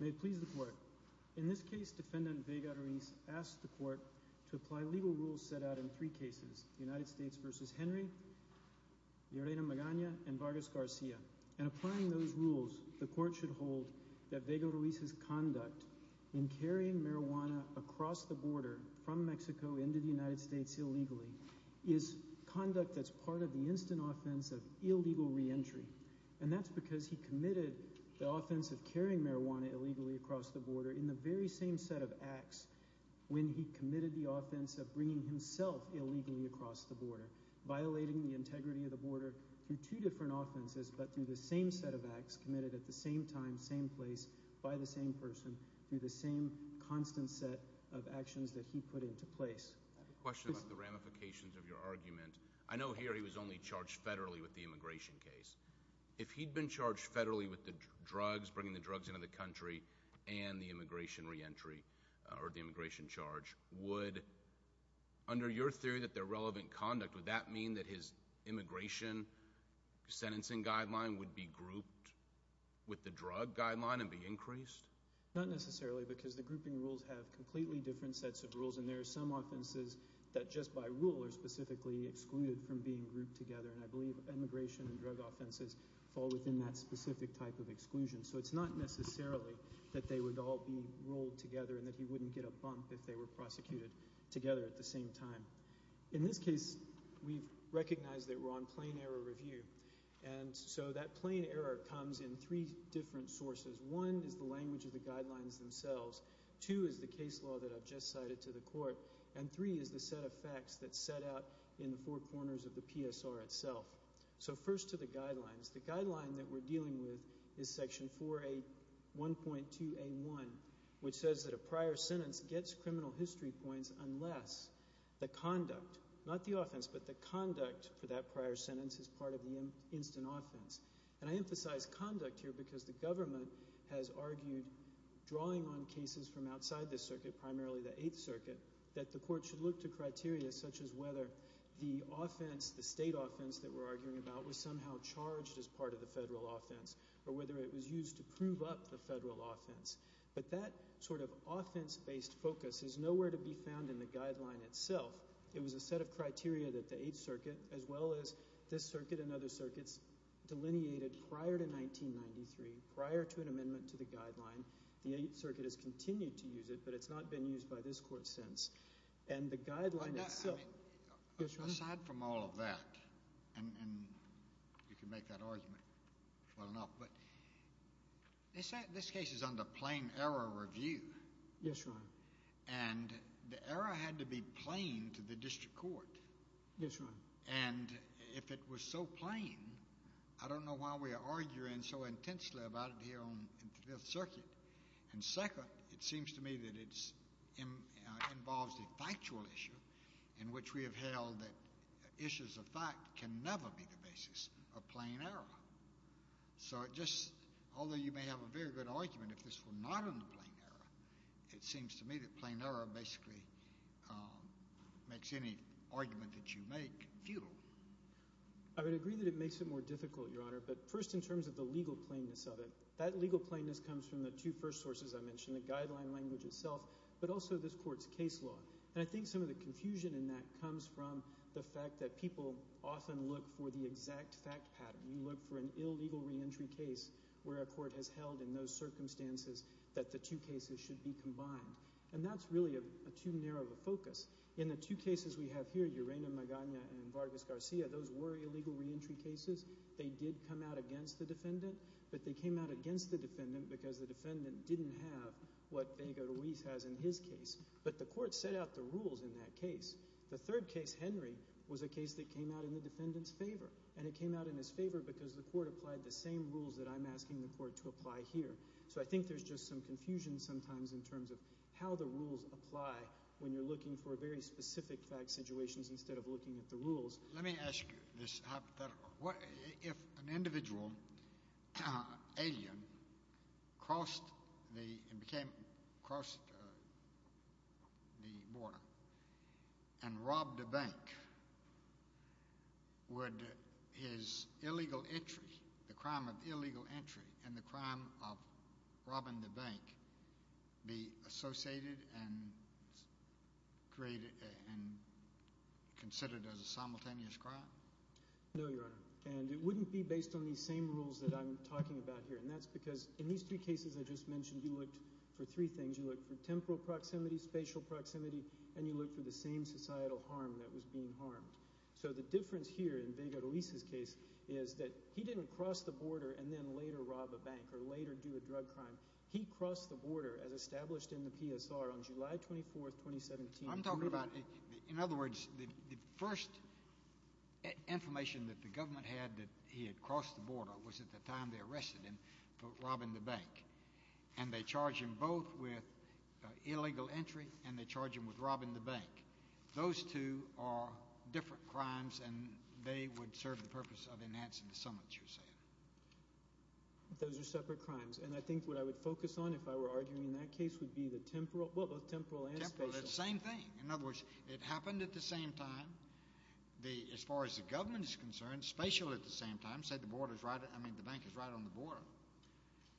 May it please the Court. In this case, Defendant Vega-Ruiz asked the Court to apply legal rules set out in three cases, United States v. Henry, Llerena Magana, and Vargas Garcia. In applying those rules, the Court should hold that Vega-Ruiz's conduct in carrying marijuana across the border from Mexico into the United States illegally is conduct that's part of the instant offense of illegal reentry. And that's because he committed the offense of carrying marijuana illegally across the border in the very same set of acts when he committed the offense of bringing himself illegally across the border, violating the integrity of the border through the same set of acts committed at the same time, same place, by the same person, through the same constant set of actions that he put into place. I have a question about the ramifications of your argument. I know here he was only charged federally with the immigration case. If he'd been charged federally with the drugs, bringing the drugs into the country, and the immigration reentry, or the immigration charge, would, under your theory that they're relevant conduct, would that mean that his immigration sentencing guideline would be grouped with the drug guideline and be increased? Not necessarily, because the grouping rules have completely different sets of rules, and there are some offenses that just by rule are specifically excluded from being grouped together. And I believe immigration and drug offenses fall within that specific type of exclusion. So it's not necessarily that they would all be rolled together and that he wouldn't get a bump if they were prosecuted together at the same time. In this case, we've recognized that we're on plain error review. And so that plain error comes in three different sources. One is the language of the guidelines themselves. Two is the case law that I've just cited to the court. And three is the set of facts that's set out in the four corners of the PSR itself. So first to the guidelines. The guideline that we're dealing with is Section 4A1.2A1, which says that a prior sentence gets criminal history points unless the conduct, not the offense, but the conduct for that prior sentence is part of the instant offense. And I emphasize conduct here because the government has argued drawing on cases from outside the circuit, primarily the Eighth Circuit, that the court should look to criteria such as whether the offense, the state offense that we're arguing about, was somehow charged as part of the federal offense, or whether it was used to charge federal offense. But that sort of offense-based focus is nowhere to be found in the guideline itself. It was a set of criteria that the Eighth Circuit, as well as this circuit and other circuits, delineated prior to 1993, prior to an amendment to the guideline. The Eighth Circuit has continued to use it, but it's not been used by this court since. And the guideline itself— Well, aside from all of that, and you can make that argument well enough, but this case is under plain error review. Yes, Your Honor. And the error had to be plain to the district court. Yes, Your Honor. And if it was so plain, I don't know why we are arguing so intensely about it here on the Fifth Circuit. And second, it seems to me that it involves a factual issue in which we have held that issues of fact can never be the basis of plain error. So it just—although you may have a very good argument if this were not in the plain error, it seems to me that plain error basically makes any argument that you make futile. I would agree that it makes it more difficult, Your Honor, but first in terms of the legal plainness of it. That legal plainness comes from the two first sources I mentioned, the guideline language itself, but also this court's case law. And I think some of the confusion in that comes from the fact that people often look for the exact fact pattern. We look for an illegal reentry case where a court has held in those circumstances that the two cases should be combined. And that's really too narrow of a focus. In the two cases we have here, Urena Magana and Vargas Garcia, those were illegal reentry cases. They did come out against the defendant, but they came out against the defendant because the defendant didn't have what Vega Ruiz has in his case. But the court set out the rules in that case. The third case, Henry, was a case that came out in the defendant's favor. And it came out in his favor because the court applied the same rules that I'm asking the court to apply here. So I think there's just some confusion sometimes in terms of how the rules apply when you're looking for very specific fact situations instead of looking at the rules. Let me ask you this hypothetical. If an individual, alien, crossed the border and robbed a bank, would his illegal entry, the crime of illegal entry, and the crime of robbing the bank be associated and considered as a simultaneous crime? No, Your Honor. And it wouldn't be based on these same rules that I'm talking about here. And that's because in these two cases I just mentioned, you looked for three things. You looked for temporal proximity, spatial proximity, and you looked for the same societal harm that was being harmed. So the difference here in Vega Ruiz's case is that he didn't cross the border and then later rob a bank or later do a drug crime. He crossed the border as established in the PSR on July 24, 2017. I'm talking about, in other words, the first information that the government had that he had crossed the border was at the time they arrested him for robbing the bank. And they charge him both with illegal entry and they charge him with robbing the bank. Those two are different crimes and they would serve the purpose of enhancing the summits, you're saying. Those are separate crimes. And I think what I would focus on, if I were arguing in that case, would be both temporal and spatial. Temporal, it's the same thing. In other words, it happened at the same time. As far as the government is concerned, spatial at the same time, said the bank is right on the border.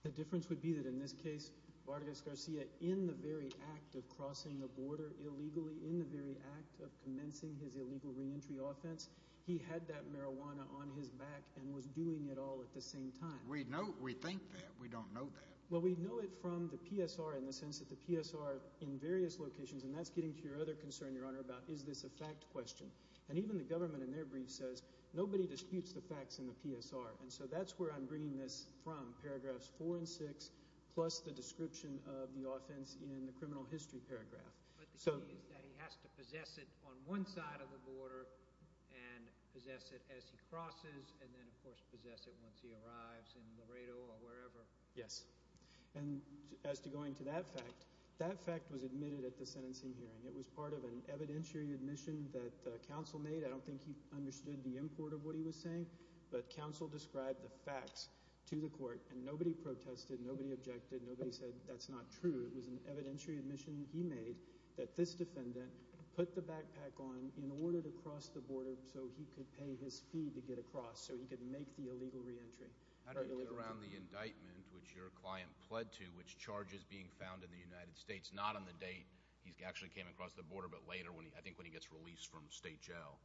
The difference would be that in this case, Vargas Garcia, in the very act of crossing the border illegally, in the very act of commencing his illegal reentry offense, he had that marijuana on his back and was doing it all at the same time. We know, we think that. We don't know that. Well, we know it from the PSR in the sense that the PSR in various locations, and that's getting to your other concern, Your Honor, about is this a fact question. And even the government in their brief says nobody disputes the facts in the PSR. And so that's where I'm bringing this from, paragraphs four and six, plus the description of the offense in the criminal history paragraph. But the key is that he has to possess it on one side of the border and possess it as he crosses and then, of course, possess it once he arrives in Laredo or wherever. Yes. And as to going to that fact, that fact was admitted at the sentencing hearing. It was part of an evidentiary admission that counsel made. I don't think he understood the import of what he was saying, but counsel described the facts to the court and nobody protested, nobody objected, nobody said that's not true. It was an evidentiary admission he made that this defendant put the backpack on in order to cross the border so he could pay his fee to get across, so he could make the illegal reentry. How do you get around the indictment, which your client pled to, which charges being found in the United States, not on the date he actually came across the border, but later, I think when he gets released from state jail?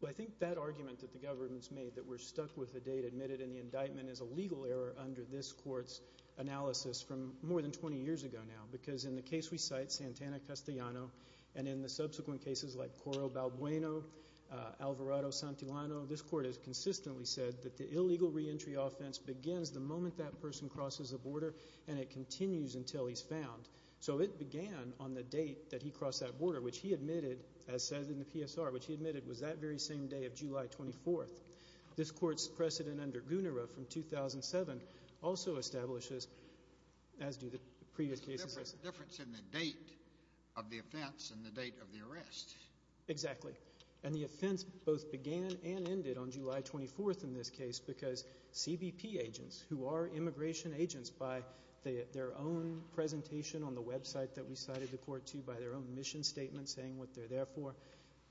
Well, I think that argument that the government's made, that we're stuck with the date admitted in the indictment, is a legal error under this court's analysis from more than 20 years ago now, because in the case we cite, Santana-Castellano, and in the subsequent cases like Coro-Balbueno, Alvarado-Santillano, this court has consistently said that the illegal reentry offense begins the moment that person crosses the border and it continues until he's found. So it began on the date that he crossed that border, which he admitted, as said in the PSR, which he admitted was that very same day of July 24th. This court's precedent under Gunara from 2007 also establishes, as do the previous cases. There's a difference in the date of the offense and the date of the arrest. Exactly. And the offense both began and ended on July 24th in this case, because CBP agents, who are immigration agents by their own presentation on the website that we cited the court to by their own mission statement saying what they're there for,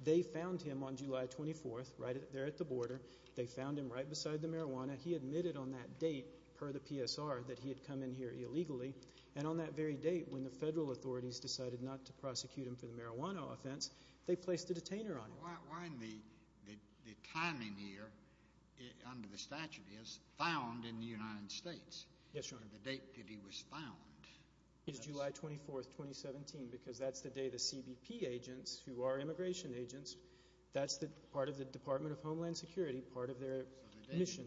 they found him on July 24th, right there at the border. They found him right beside the marijuana. He admitted on that date, per the PSR, that he had come in here illegally. And on that very date, when the federal authorities decided not to prosecute him for the marijuana offense, they placed a detainer on him. Why in the timing here, under the statute, is found in the United States? Yes, Your Honor. The date that he was found. It's July 24th, 2017, because that's the day the CBP agents, who are immigration agents, that's part of the Department of Homeland Security, part of their mission.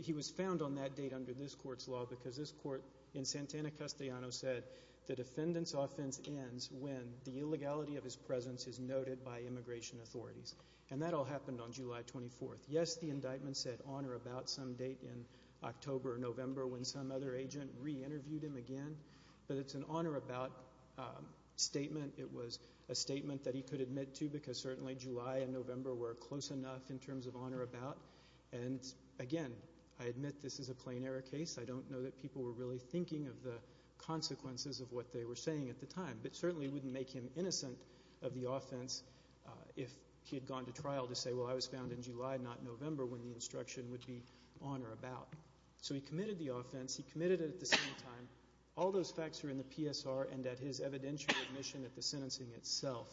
He was found on that date under this court's law, because this court in Santana-Castellano said the defendant's offense ends when the illegality of his presence is noted by immigration authorities. And that all happened on July 24th. Yes, the indictment said on or about some date in October or November, when some other agent re-interviewed him again, but it's an on or about statement. It was a statement that he could admit to, because certainly July and November were close enough in terms of on or about. And again, I admit this is a plain error case. I don't know that people were really thinking of the consequences of what they were saying at the time. But it certainly wouldn't make him innocent of the offense if he had gone to trial to say, well, I was found in July, not November, when the instruction would be on or about. So he committed the offense. He committed it at the same time. All those facts are in the PSR and at his evidentiary admission at the sentencing itself.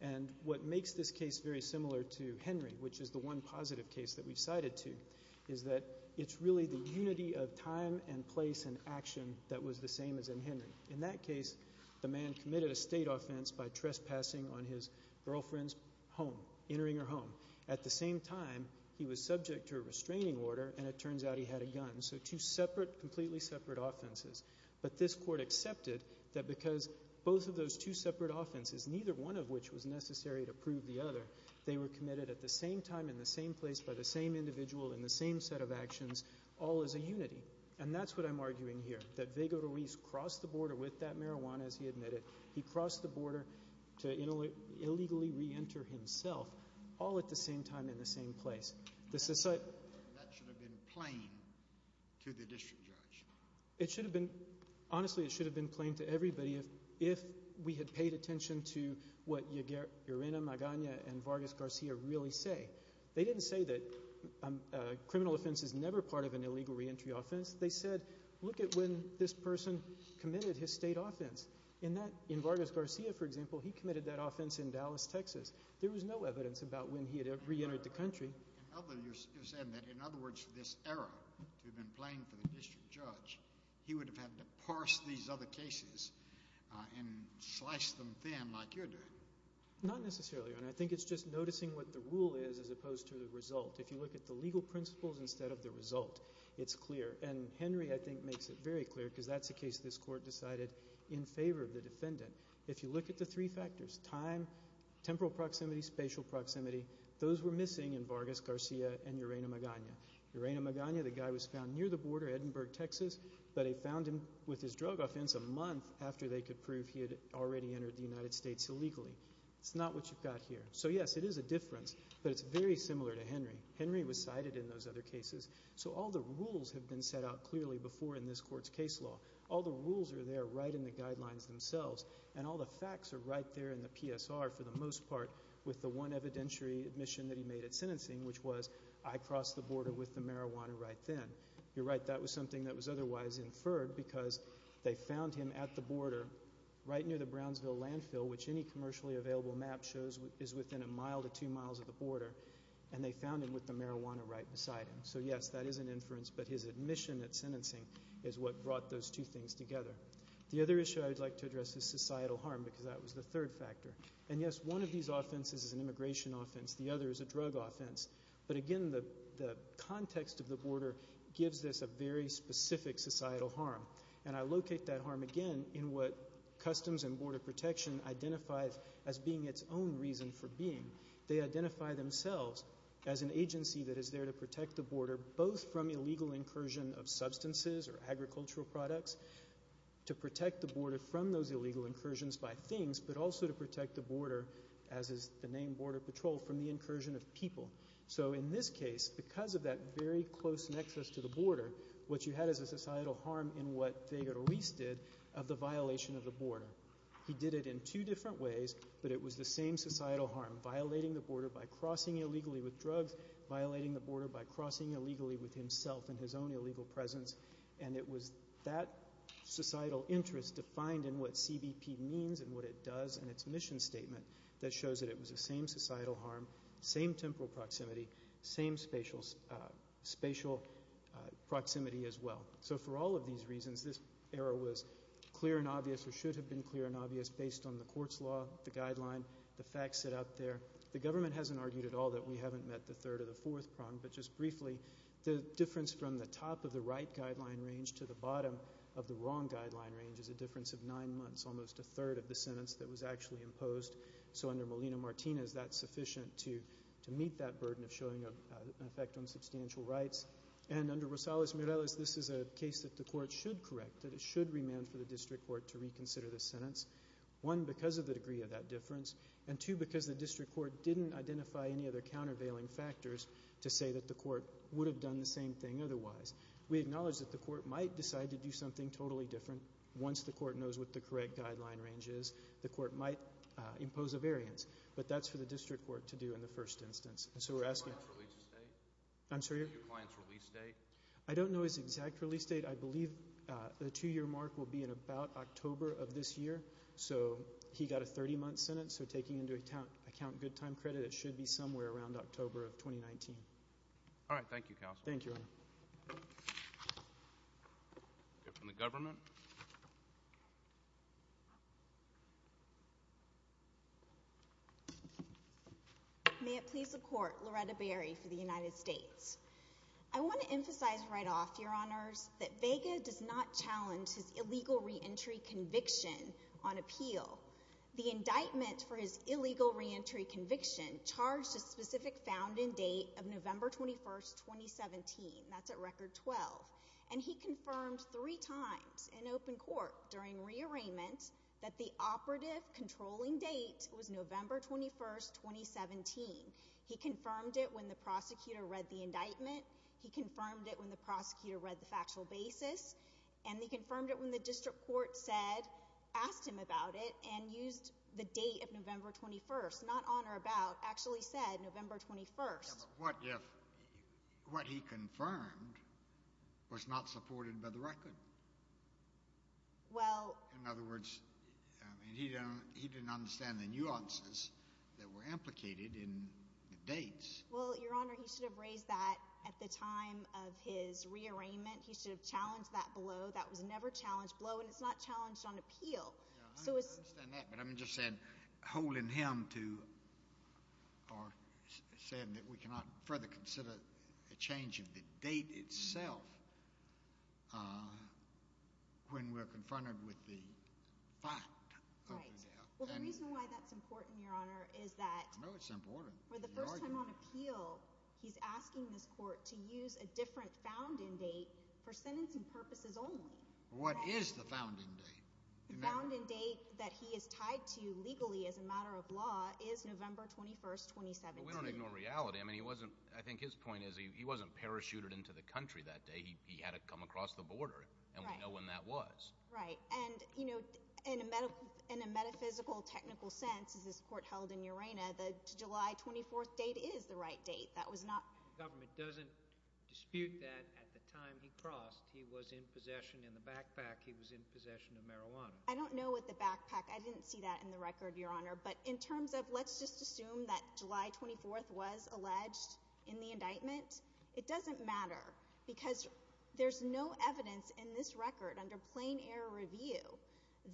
And what makes this case very similar to Henry, which is the one positive case that we've cited to, is that it's really the unity of time and place and action that was the same as in Henry. In that case, the man committed a state offense by trespassing on his girlfriend's home, entering her home. At the same time, he was subject to a restraining order, and it turns out he had a gun. So two separate, completely separate offenses. But this Court accepted that because both of those two separate offenses, neither one of which was necessary to prove the other, they were committed at the same time in the same place by the same individual in the same set of actions, all as a unity. And that's what I'm arguing here, that Vega Ruiz crossed the border with that marijuana, as he admitted. He crossed the border to illegally reenter himself, all at the same time in the same place. That should have been plain to the district judge. It should have been. Honestly, it should have been plain to everybody if we had paid attention to what Urena Magana and Vargas Garcia really say. They didn't say that a criminal offense is never part of an illegal reentry offense. They said, look at when this person committed his state offense. In Vargas Garcia, for example, he committed that offense in Dallas, Texas. There was no evidence about when he had reentered the country. Although you're saying that, in other words, for this error to have been plain for the district judge, he would have had to parse these other cases and slice them thin like you're doing. Not necessarily, Your Honor. I think it's just noticing what the rule is as opposed to the result. If you look at the legal principles instead of the result, it's clear. And Henry, I think, makes it very clear because that's a case this Court decided in favor of the defendant. If you look at the three factors, time, temporal proximity, spatial proximity, those were missing in Vargas Garcia and Urena Magana. Urena Magana, the guy was found near the border, Edinburgh, Texas, but they found him with his drug offense a month after they could prove he had already entered the United States illegally. It's not what you've got here. So, yes, it is a difference, but it's very similar to Henry. Henry was cited in those other cases. So all the rules have been set out clearly before in this Court's case law. All the rules are there right in the guidelines themselves, and all the facts are right there in the PSR for the most part with the one evidentiary admission that he made at sentencing, which was I crossed the border with the marijuana right then. You're right. That was something that was otherwise inferred because they found him at the border right near the Brownsville landfill, which any commercially available map shows is within a mile to two miles of the border, and they found him with the marijuana right beside him. So, yes, that is an inference, but his admission at sentencing is what brought those two things together. The other issue I would like to address is societal harm because that was the third factor. And, yes, one of these offenses is an immigration offense. The other is a drug offense. But, again, the context of the border gives this a very specific societal harm, and I locate that harm, again, in what Customs and Border Protection identifies as being its own reason for being. They identify themselves as an agency that is there to protect the border, both from illegal incursion of substances or agricultural products, to protect the border from those illegal incursions by things, but also to protect the border, as is the name Border Patrol, from the incursion of people. So, in this case, because of that very close nexus to the border, what you had is a societal harm in what Figueres Ruiz did of the violation of the border. He did it in two different ways, but it was the same societal harm, violating the border by crossing illegally with drugs, violating the border by crossing illegally with himself in his own illegal presence, and it was that societal interest defined in what CBP means and what it does in its mission statement that shows that it was the same societal harm, same temporal proximity, same spatial proximity as well. So, for all of these reasons, this error was clear and obvious, or should have been clear and obvious, based on the court's law, the guideline, the facts set out there. The government hasn't argued at all that we haven't met the third or the fourth prong, but just briefly, the difference from the top of the right guideline range to the bottom of the wrong guideline range is a difference of nine months, almost a third of the sentence that was actually imposed. So, under Molina-Martinez, that's sufficient to meet that burden of showing an effect on substantial rights. And under Rosales-Mireles, this is a case that the court should correct, that it should remand for the district court to reconsider the sentence, one, because of the degree of that difference, and two, because the district court didn't identify any other countervailing factors to say that the court would have done the same thing otherwise. We acknowledge that the court might decide to do something totally different once the court knows what the correct guideline range is. The court might impose a variance, but that's for the district court to do in the first instance. Your client's release date? I don't know his exact release date. I believe the two-year mark will be in about October of this year. So, he got a 30-month sentence, so taking into account good time credit, it should be somewhere around October of 2019. All right. Thank you, counsel. Thank you, Your Honor. We'll go from the government. May it please the Court. Loretta Berry for the United States. I want to emphasize right off, Your Honors, that Vega does not challenge his illegal reentry conviction on appeal. The indictment for his illegal reentry conviction charged a specific founding date of November 21, 2017. That's at Record 12. And he confirmed three times in open court during rearrangement that the operative controlling date was November 21, 2017. He confirmed it when the prosecutor read the indictment. He confirmed it when the prosecutor read the factual basis. And he confirmed it when the district court said, asked him about it, and used the date of November 21, not on or about, actually said November 21. But what if what he confirmed was not supported by the record? In other words, he didn't understand the nuances that were implicated in dates. Well, Your Honor, he should have raised that at the time of his rearrangement. He should have challenged that below. That was never challenged below, and it's not challenged on appeal. I understand that, but I'm just saying holding him to or saying that we cannot further consider a change of the date itself when we're confronted with the fact. Well, the reason why that's important, Your Honor, is that for the first time on appeal, he's asking this court to use a different founding date for sentencing purposes only. What is the founding date? The founding date that he is tied to legally as a matter of law is November 21, 2017. But we don't ignore reality. I mean, he wasn't – I think his point is he wasn't parachuted into the country that day. He had to come across the border, and we know when that was. Right, and in a metaphysical, technical sense, as this court held in Urena, the July 24 date is the right date. That was not – The government doesn't dispute that at the time he crossed. He was in possession in the backpack. He was in possession of marijuana. I don't know what the backpack – I didn't see that in the record, Your Honor. But in terms of let's just assume that July 24 was alleged in the indictment, it doesn't matter because there's no evidence in this record under plain error review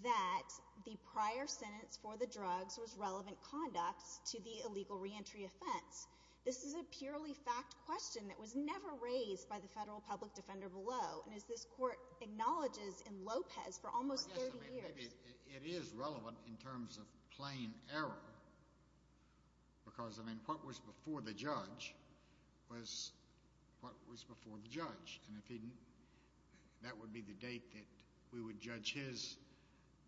that the prior sentence for the drugs was relevant conduct to the illegal reentry offense. This is a purely fact question that was never raised by the federal public defender below. And as this court acknowledges in Lopez for almost 30 years – But, yes, I mean, maybe it is relevant in terms of plain error because, I mean, what was before the judge was what was before the judge. And if he – that would be the date that we would judge his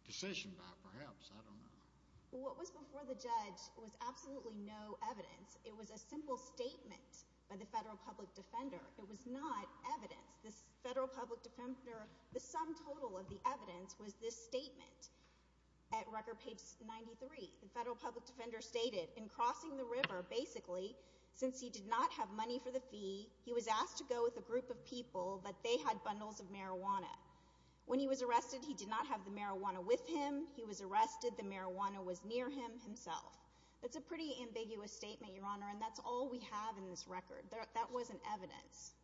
decision by perhaps. I don't know. What was before the judge was absolutely no evidence. It was a simple statement by the federal public defender. It was not evidence. The federal public defender – the sum total of the evidence was this statement at record page 93. The federal public defender stated, in crossing the river, basically, since he did not have money for the fee, he was asked to go with a group of people, but they had bundles of marijuana. When he was arrested, he did not have the marijuana with him. He was arrested. The marijuana was near him himself. That's a pretty ambiguous statement, Your Honor, and that's all we have in this record. That wasn't evidence.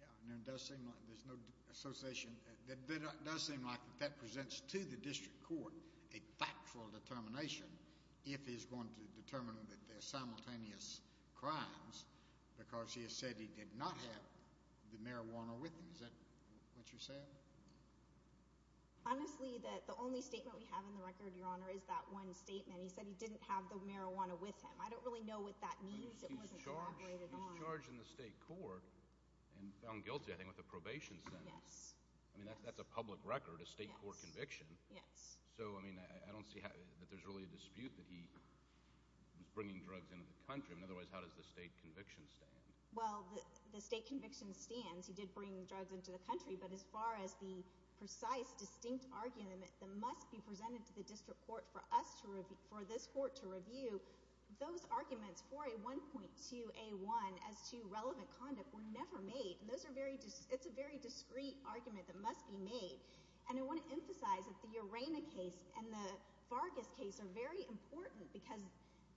Yeah, and it does seem like there's no association. It does seem like that presents to the district court a factual determination if he's going to determine that they're simultaneous crimes because he has said he did not have the marijuana with him. Is that what you're saying? Honestly, the only statement we have in the record, Your Honor, is that one statement. He said he didn't have the marijuana with him. I don't really know what that means. It wasn't elaborated on. He was charged in the state court and found guilty, I think, with a probation sentence. Yes. I mean, that's a public record, a state court conviction. Yes. So, I mean, I don't see that there's really a dispute that he was bringing drugs into the country. Otherwise, how does the state conviction stand? Well, the state conviction stands. He did bring drugs into the country. But as far as the precise, distinct argument that must be presented to the district court for us to review, for this court to review, those arguments for a 1.2A1 as to relevant conduct were never made. It's a very discreet argument that must be made. And I want to emphasize that the Urena case and the Vargas case are very important because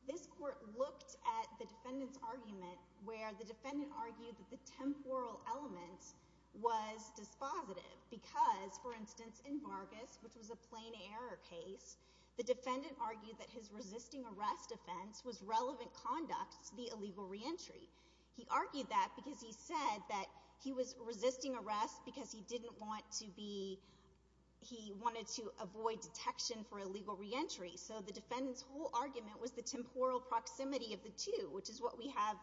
this court looked at the defendant's argument where the defendant argued that the temporal element was dispositive because, for instance, in Vargas, which was a plain error case, the defendant argued that his resisting arrest offense was relevant conduct to the illegal reentry. He argued that because he said that he was resisting arrest because he didn't want to be ‑‑ he wanted to avoid detection for illegal reentry. So the defendant's whole argument was the temporal proximity of the two, which is what we have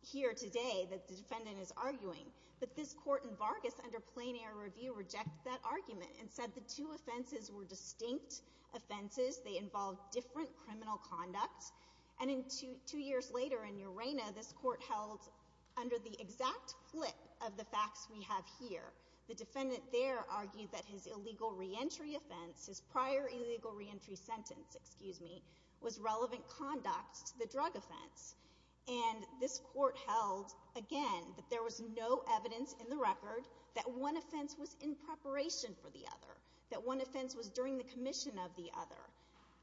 here today that the defendant is arguing. But this court in Vargas under plain error review rejected that argument and said the two offenses were distinct offenses. They involved different criminal conduct. And two years later in Urena, this court held under the exact flip of the facts we have here. The defendant there argued that his illegal reentry offense, his prior illegal reentry sentence, excuse me, was relevant conduct to the drug offense. And this court held, again, that there was no evidence in the record that one offense was in preparation for the other, that one offense was during the commission of the other.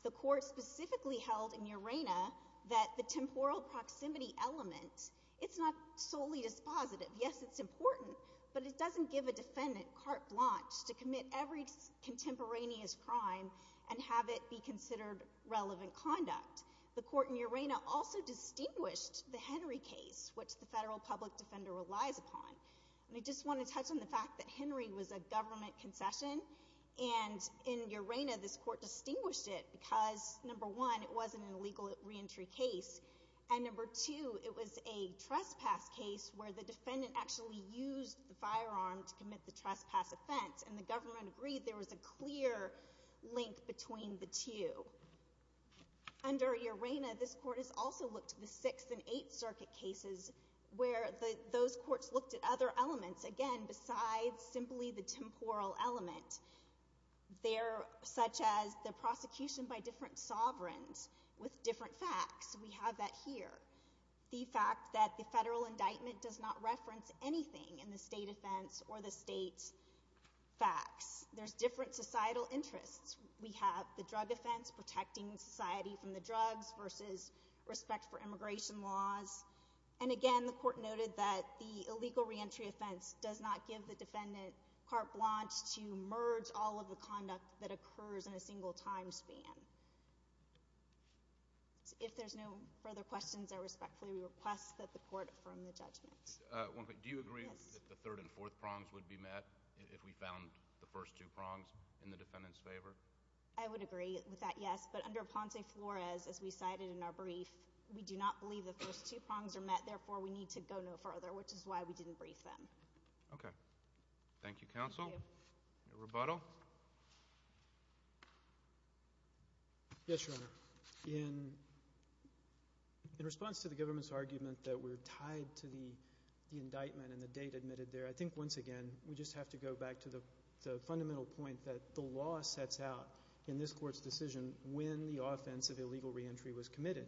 The court specifically held in Urena that the temporal proximity element, it's not solely dispositive. Yes, it's important, but it doesn't give a defendant carte blanche to commit every contemporaneous crime and have it be considered relevant conduct. The court in Urena also distinguished the Henry case, which the federal public defender relies upon. And I just want to touch on the fact that Henry was a government concession, and in Urena this court distinguished it because, number one, it wasn't an illegal reentry case, and, number two, it was a trespass case where the defendant actually used the firearm to commit the trespass offense, and the government agreed there was a clear link between the two. Under Urena, this court has also looked at the Sixth and Eighth Circuit cases where those courts looked at other elements, again, besides simply the temporal element. They're such as the prosecution by different sovereigns with different facts. We have that here. The fact that the federal indictment does not reference anything in the state offense or the state facts. There's different societal interests. We have the drug offense protecting society from the drugs versus respect for immigration laws. And, again, the court noted that the illegal reentry offense does not give the defendant carte blanche to merge all of the conduct that occurs in a single time span. If there's no further questions, I respectfully request that the court affirm the judgment. Do you agree that the third and fourth prongs would be met if we found the first two prongs in the defendant's favor? I would agree with that, yes. But under Ponce Flores, as we cited in our brief, we do not believe the first two prongs are met. Therefore, we need to go no further, which is why we didn't brief them. Okay. Thank you, counsel. Thank you. Any rebuttal? Yes, Your Honor. In response to the government's argument that we're tied to the indictment and the date admitted there, I think, once again, we just have to go back to the fundamental point that the law sets out in this court's decision when the offense of illegal reentry was committed.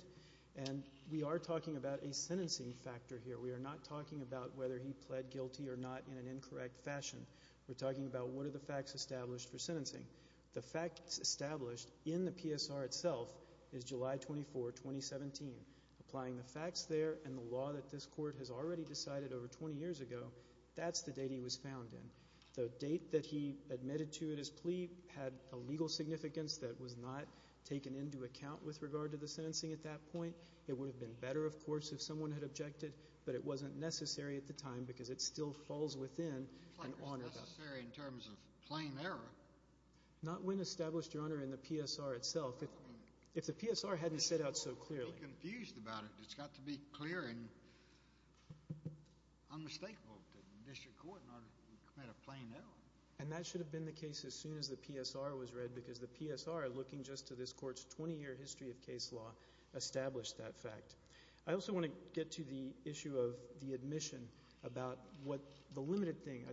And we are talking about a sentencing factor here. We are not talking about whether he pled guilty or not in an incorrect fashion. We're talking about what are the facts established for sentencing. The facts established in the PSR itself is July 24, 2017. Applying the facts there and the law that this court has already decided over 20 years ago, that's the date he was found in. The date that he admitted to in his plea had a legal significance that was not taken into account with regard to the sentencing at that point. It would have been better, of course, if someone had objected, but it wasn't necessary at the time because it still falls within an honor. It's not necessary in terms of plain error. Not when established, Your Honor, in the PSR itself. If the PSR hadn't set out so clearly. It's got to be clear and unmistakable to the district court in order to commit a plain error. And that should have been the case as soon as the PSR was read because the PSR, looking just to this court's 20-year history of case law, established that fact. I also want to get to the issue of the admission about what the limited thing,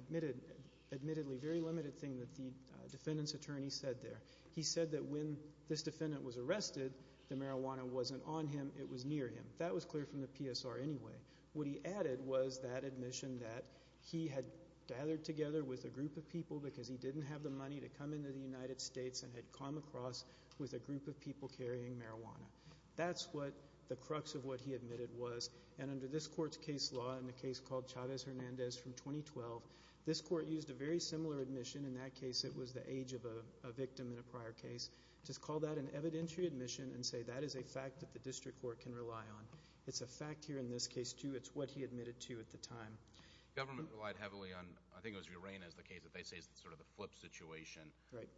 admittedly very limited thing that the defendant's attorney said there. He said that when this defendant was arrested, the marijuana wasn't on him, it was near him. That was clear from the PSR anyway. What he added was that admission that he had gathered together with a group of people because he didn't have the money to come into the United States and had come across with a group of people carrying marijuana. That's what the crux of what he admitted was. And under this court's case law in a case called Chavez-Hernandez from 2012, this court used a very similar admission. In that case, it was the age of a victim in a prior case. Just call that an evidentiary admission and say that is a fact that the district court can rely on. It's a fact here in this case, too. It's what he admitted to at the time. The government relied heavily on, I think it was Urana's case that they say is sort of the flip situation. Right.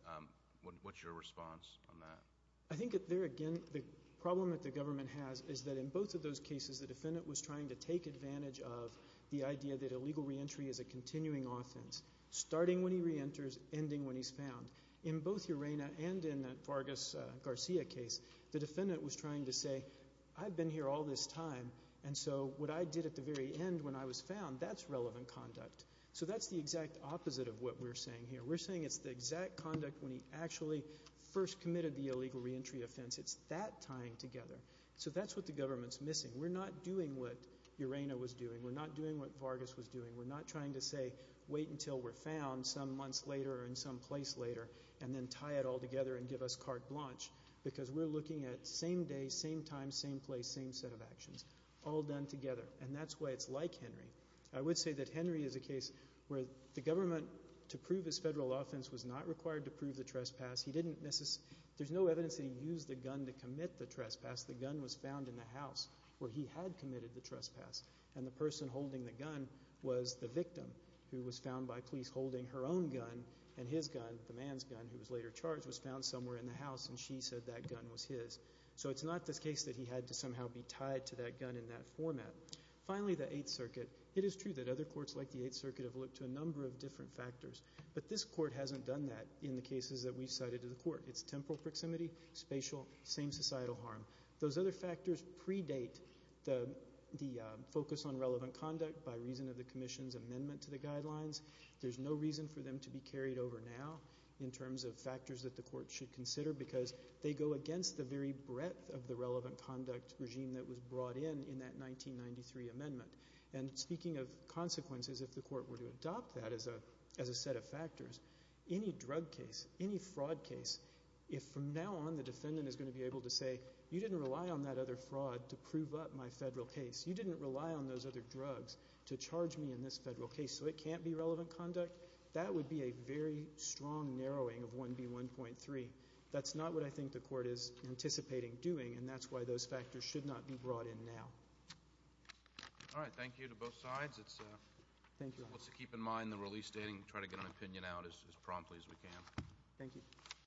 What's your response on that? I think that there again, the problem that the government has is that in both of those cases, the defendant was trying to take advantage of the idea that illegal reentry is a continuing offense, starting when he reenters, ending when he's found. In both Urana and in that Vargas-Garcia case, the defendant was trying to say, I've been here all this time, and so what I did at the very end when I was found, that's relevant conduct. So that's the exact opposite of what we're saying here. We're saying it's the exact conduct when he actually first committed the illegal reentry offense. It's that tying together. So that's what the government's missing. We're not doing what Urana was doing. We're not doing what Vargas was doing. We're not trying to say wait until we're found some months later or in some place later and then tie it all together and give us carte blanche because we're looking at same day, same time, same place, same set of actions all done together, and that's why it's like Henry. I would say that Henry is a case where the government, to prove his federal offense, was not required to prove the trespass. There's no evidence that he used the gun to commit the trespass. The gun was found in the house where he had committed the trespass, and the person holding the gun was the victim who was found by police holding her own gun, and his gun, the man's gun who was later charged, was found somewhere in the house, and she said that gun was his. So it's not the case that he had to somehow be tied to that gun in that format. Finally, the Eighth Circuit. It is true that other courts like the Eighth Circuit have looked to a number of different factors, but this court hasn't done that in the cases that we've cited to the court. It's temporal proximity, spatial, same societal harm. Those other factors predate the focus on relevant conduct by reason of the commission's amendment to the guidelines. There's no reason for them to be carried over now in terms of factors that the court should consider because they go against the very breadth of the relevant conduct regime that was brought in in that 1993 amendment. And speaking of consequences, if the court were to adopt that as a set of factors, any drug case, any fraud case, if from now on the defendant is going to be able to say, you didn't rely on that other fraud to prove up my federal case, you didn't rely on those other drugs to charge me in this federal case so it can't be relevant conduct, that would be a very strong narrowing of 1B1.3. That's not what I think the court is anticipating doing, and that's why those factors should not be brought in now. All right. Thank you to both sides. Thank you. Let's keep in mind the release dating and try to get an opinion out as promptly as we can. Thank you.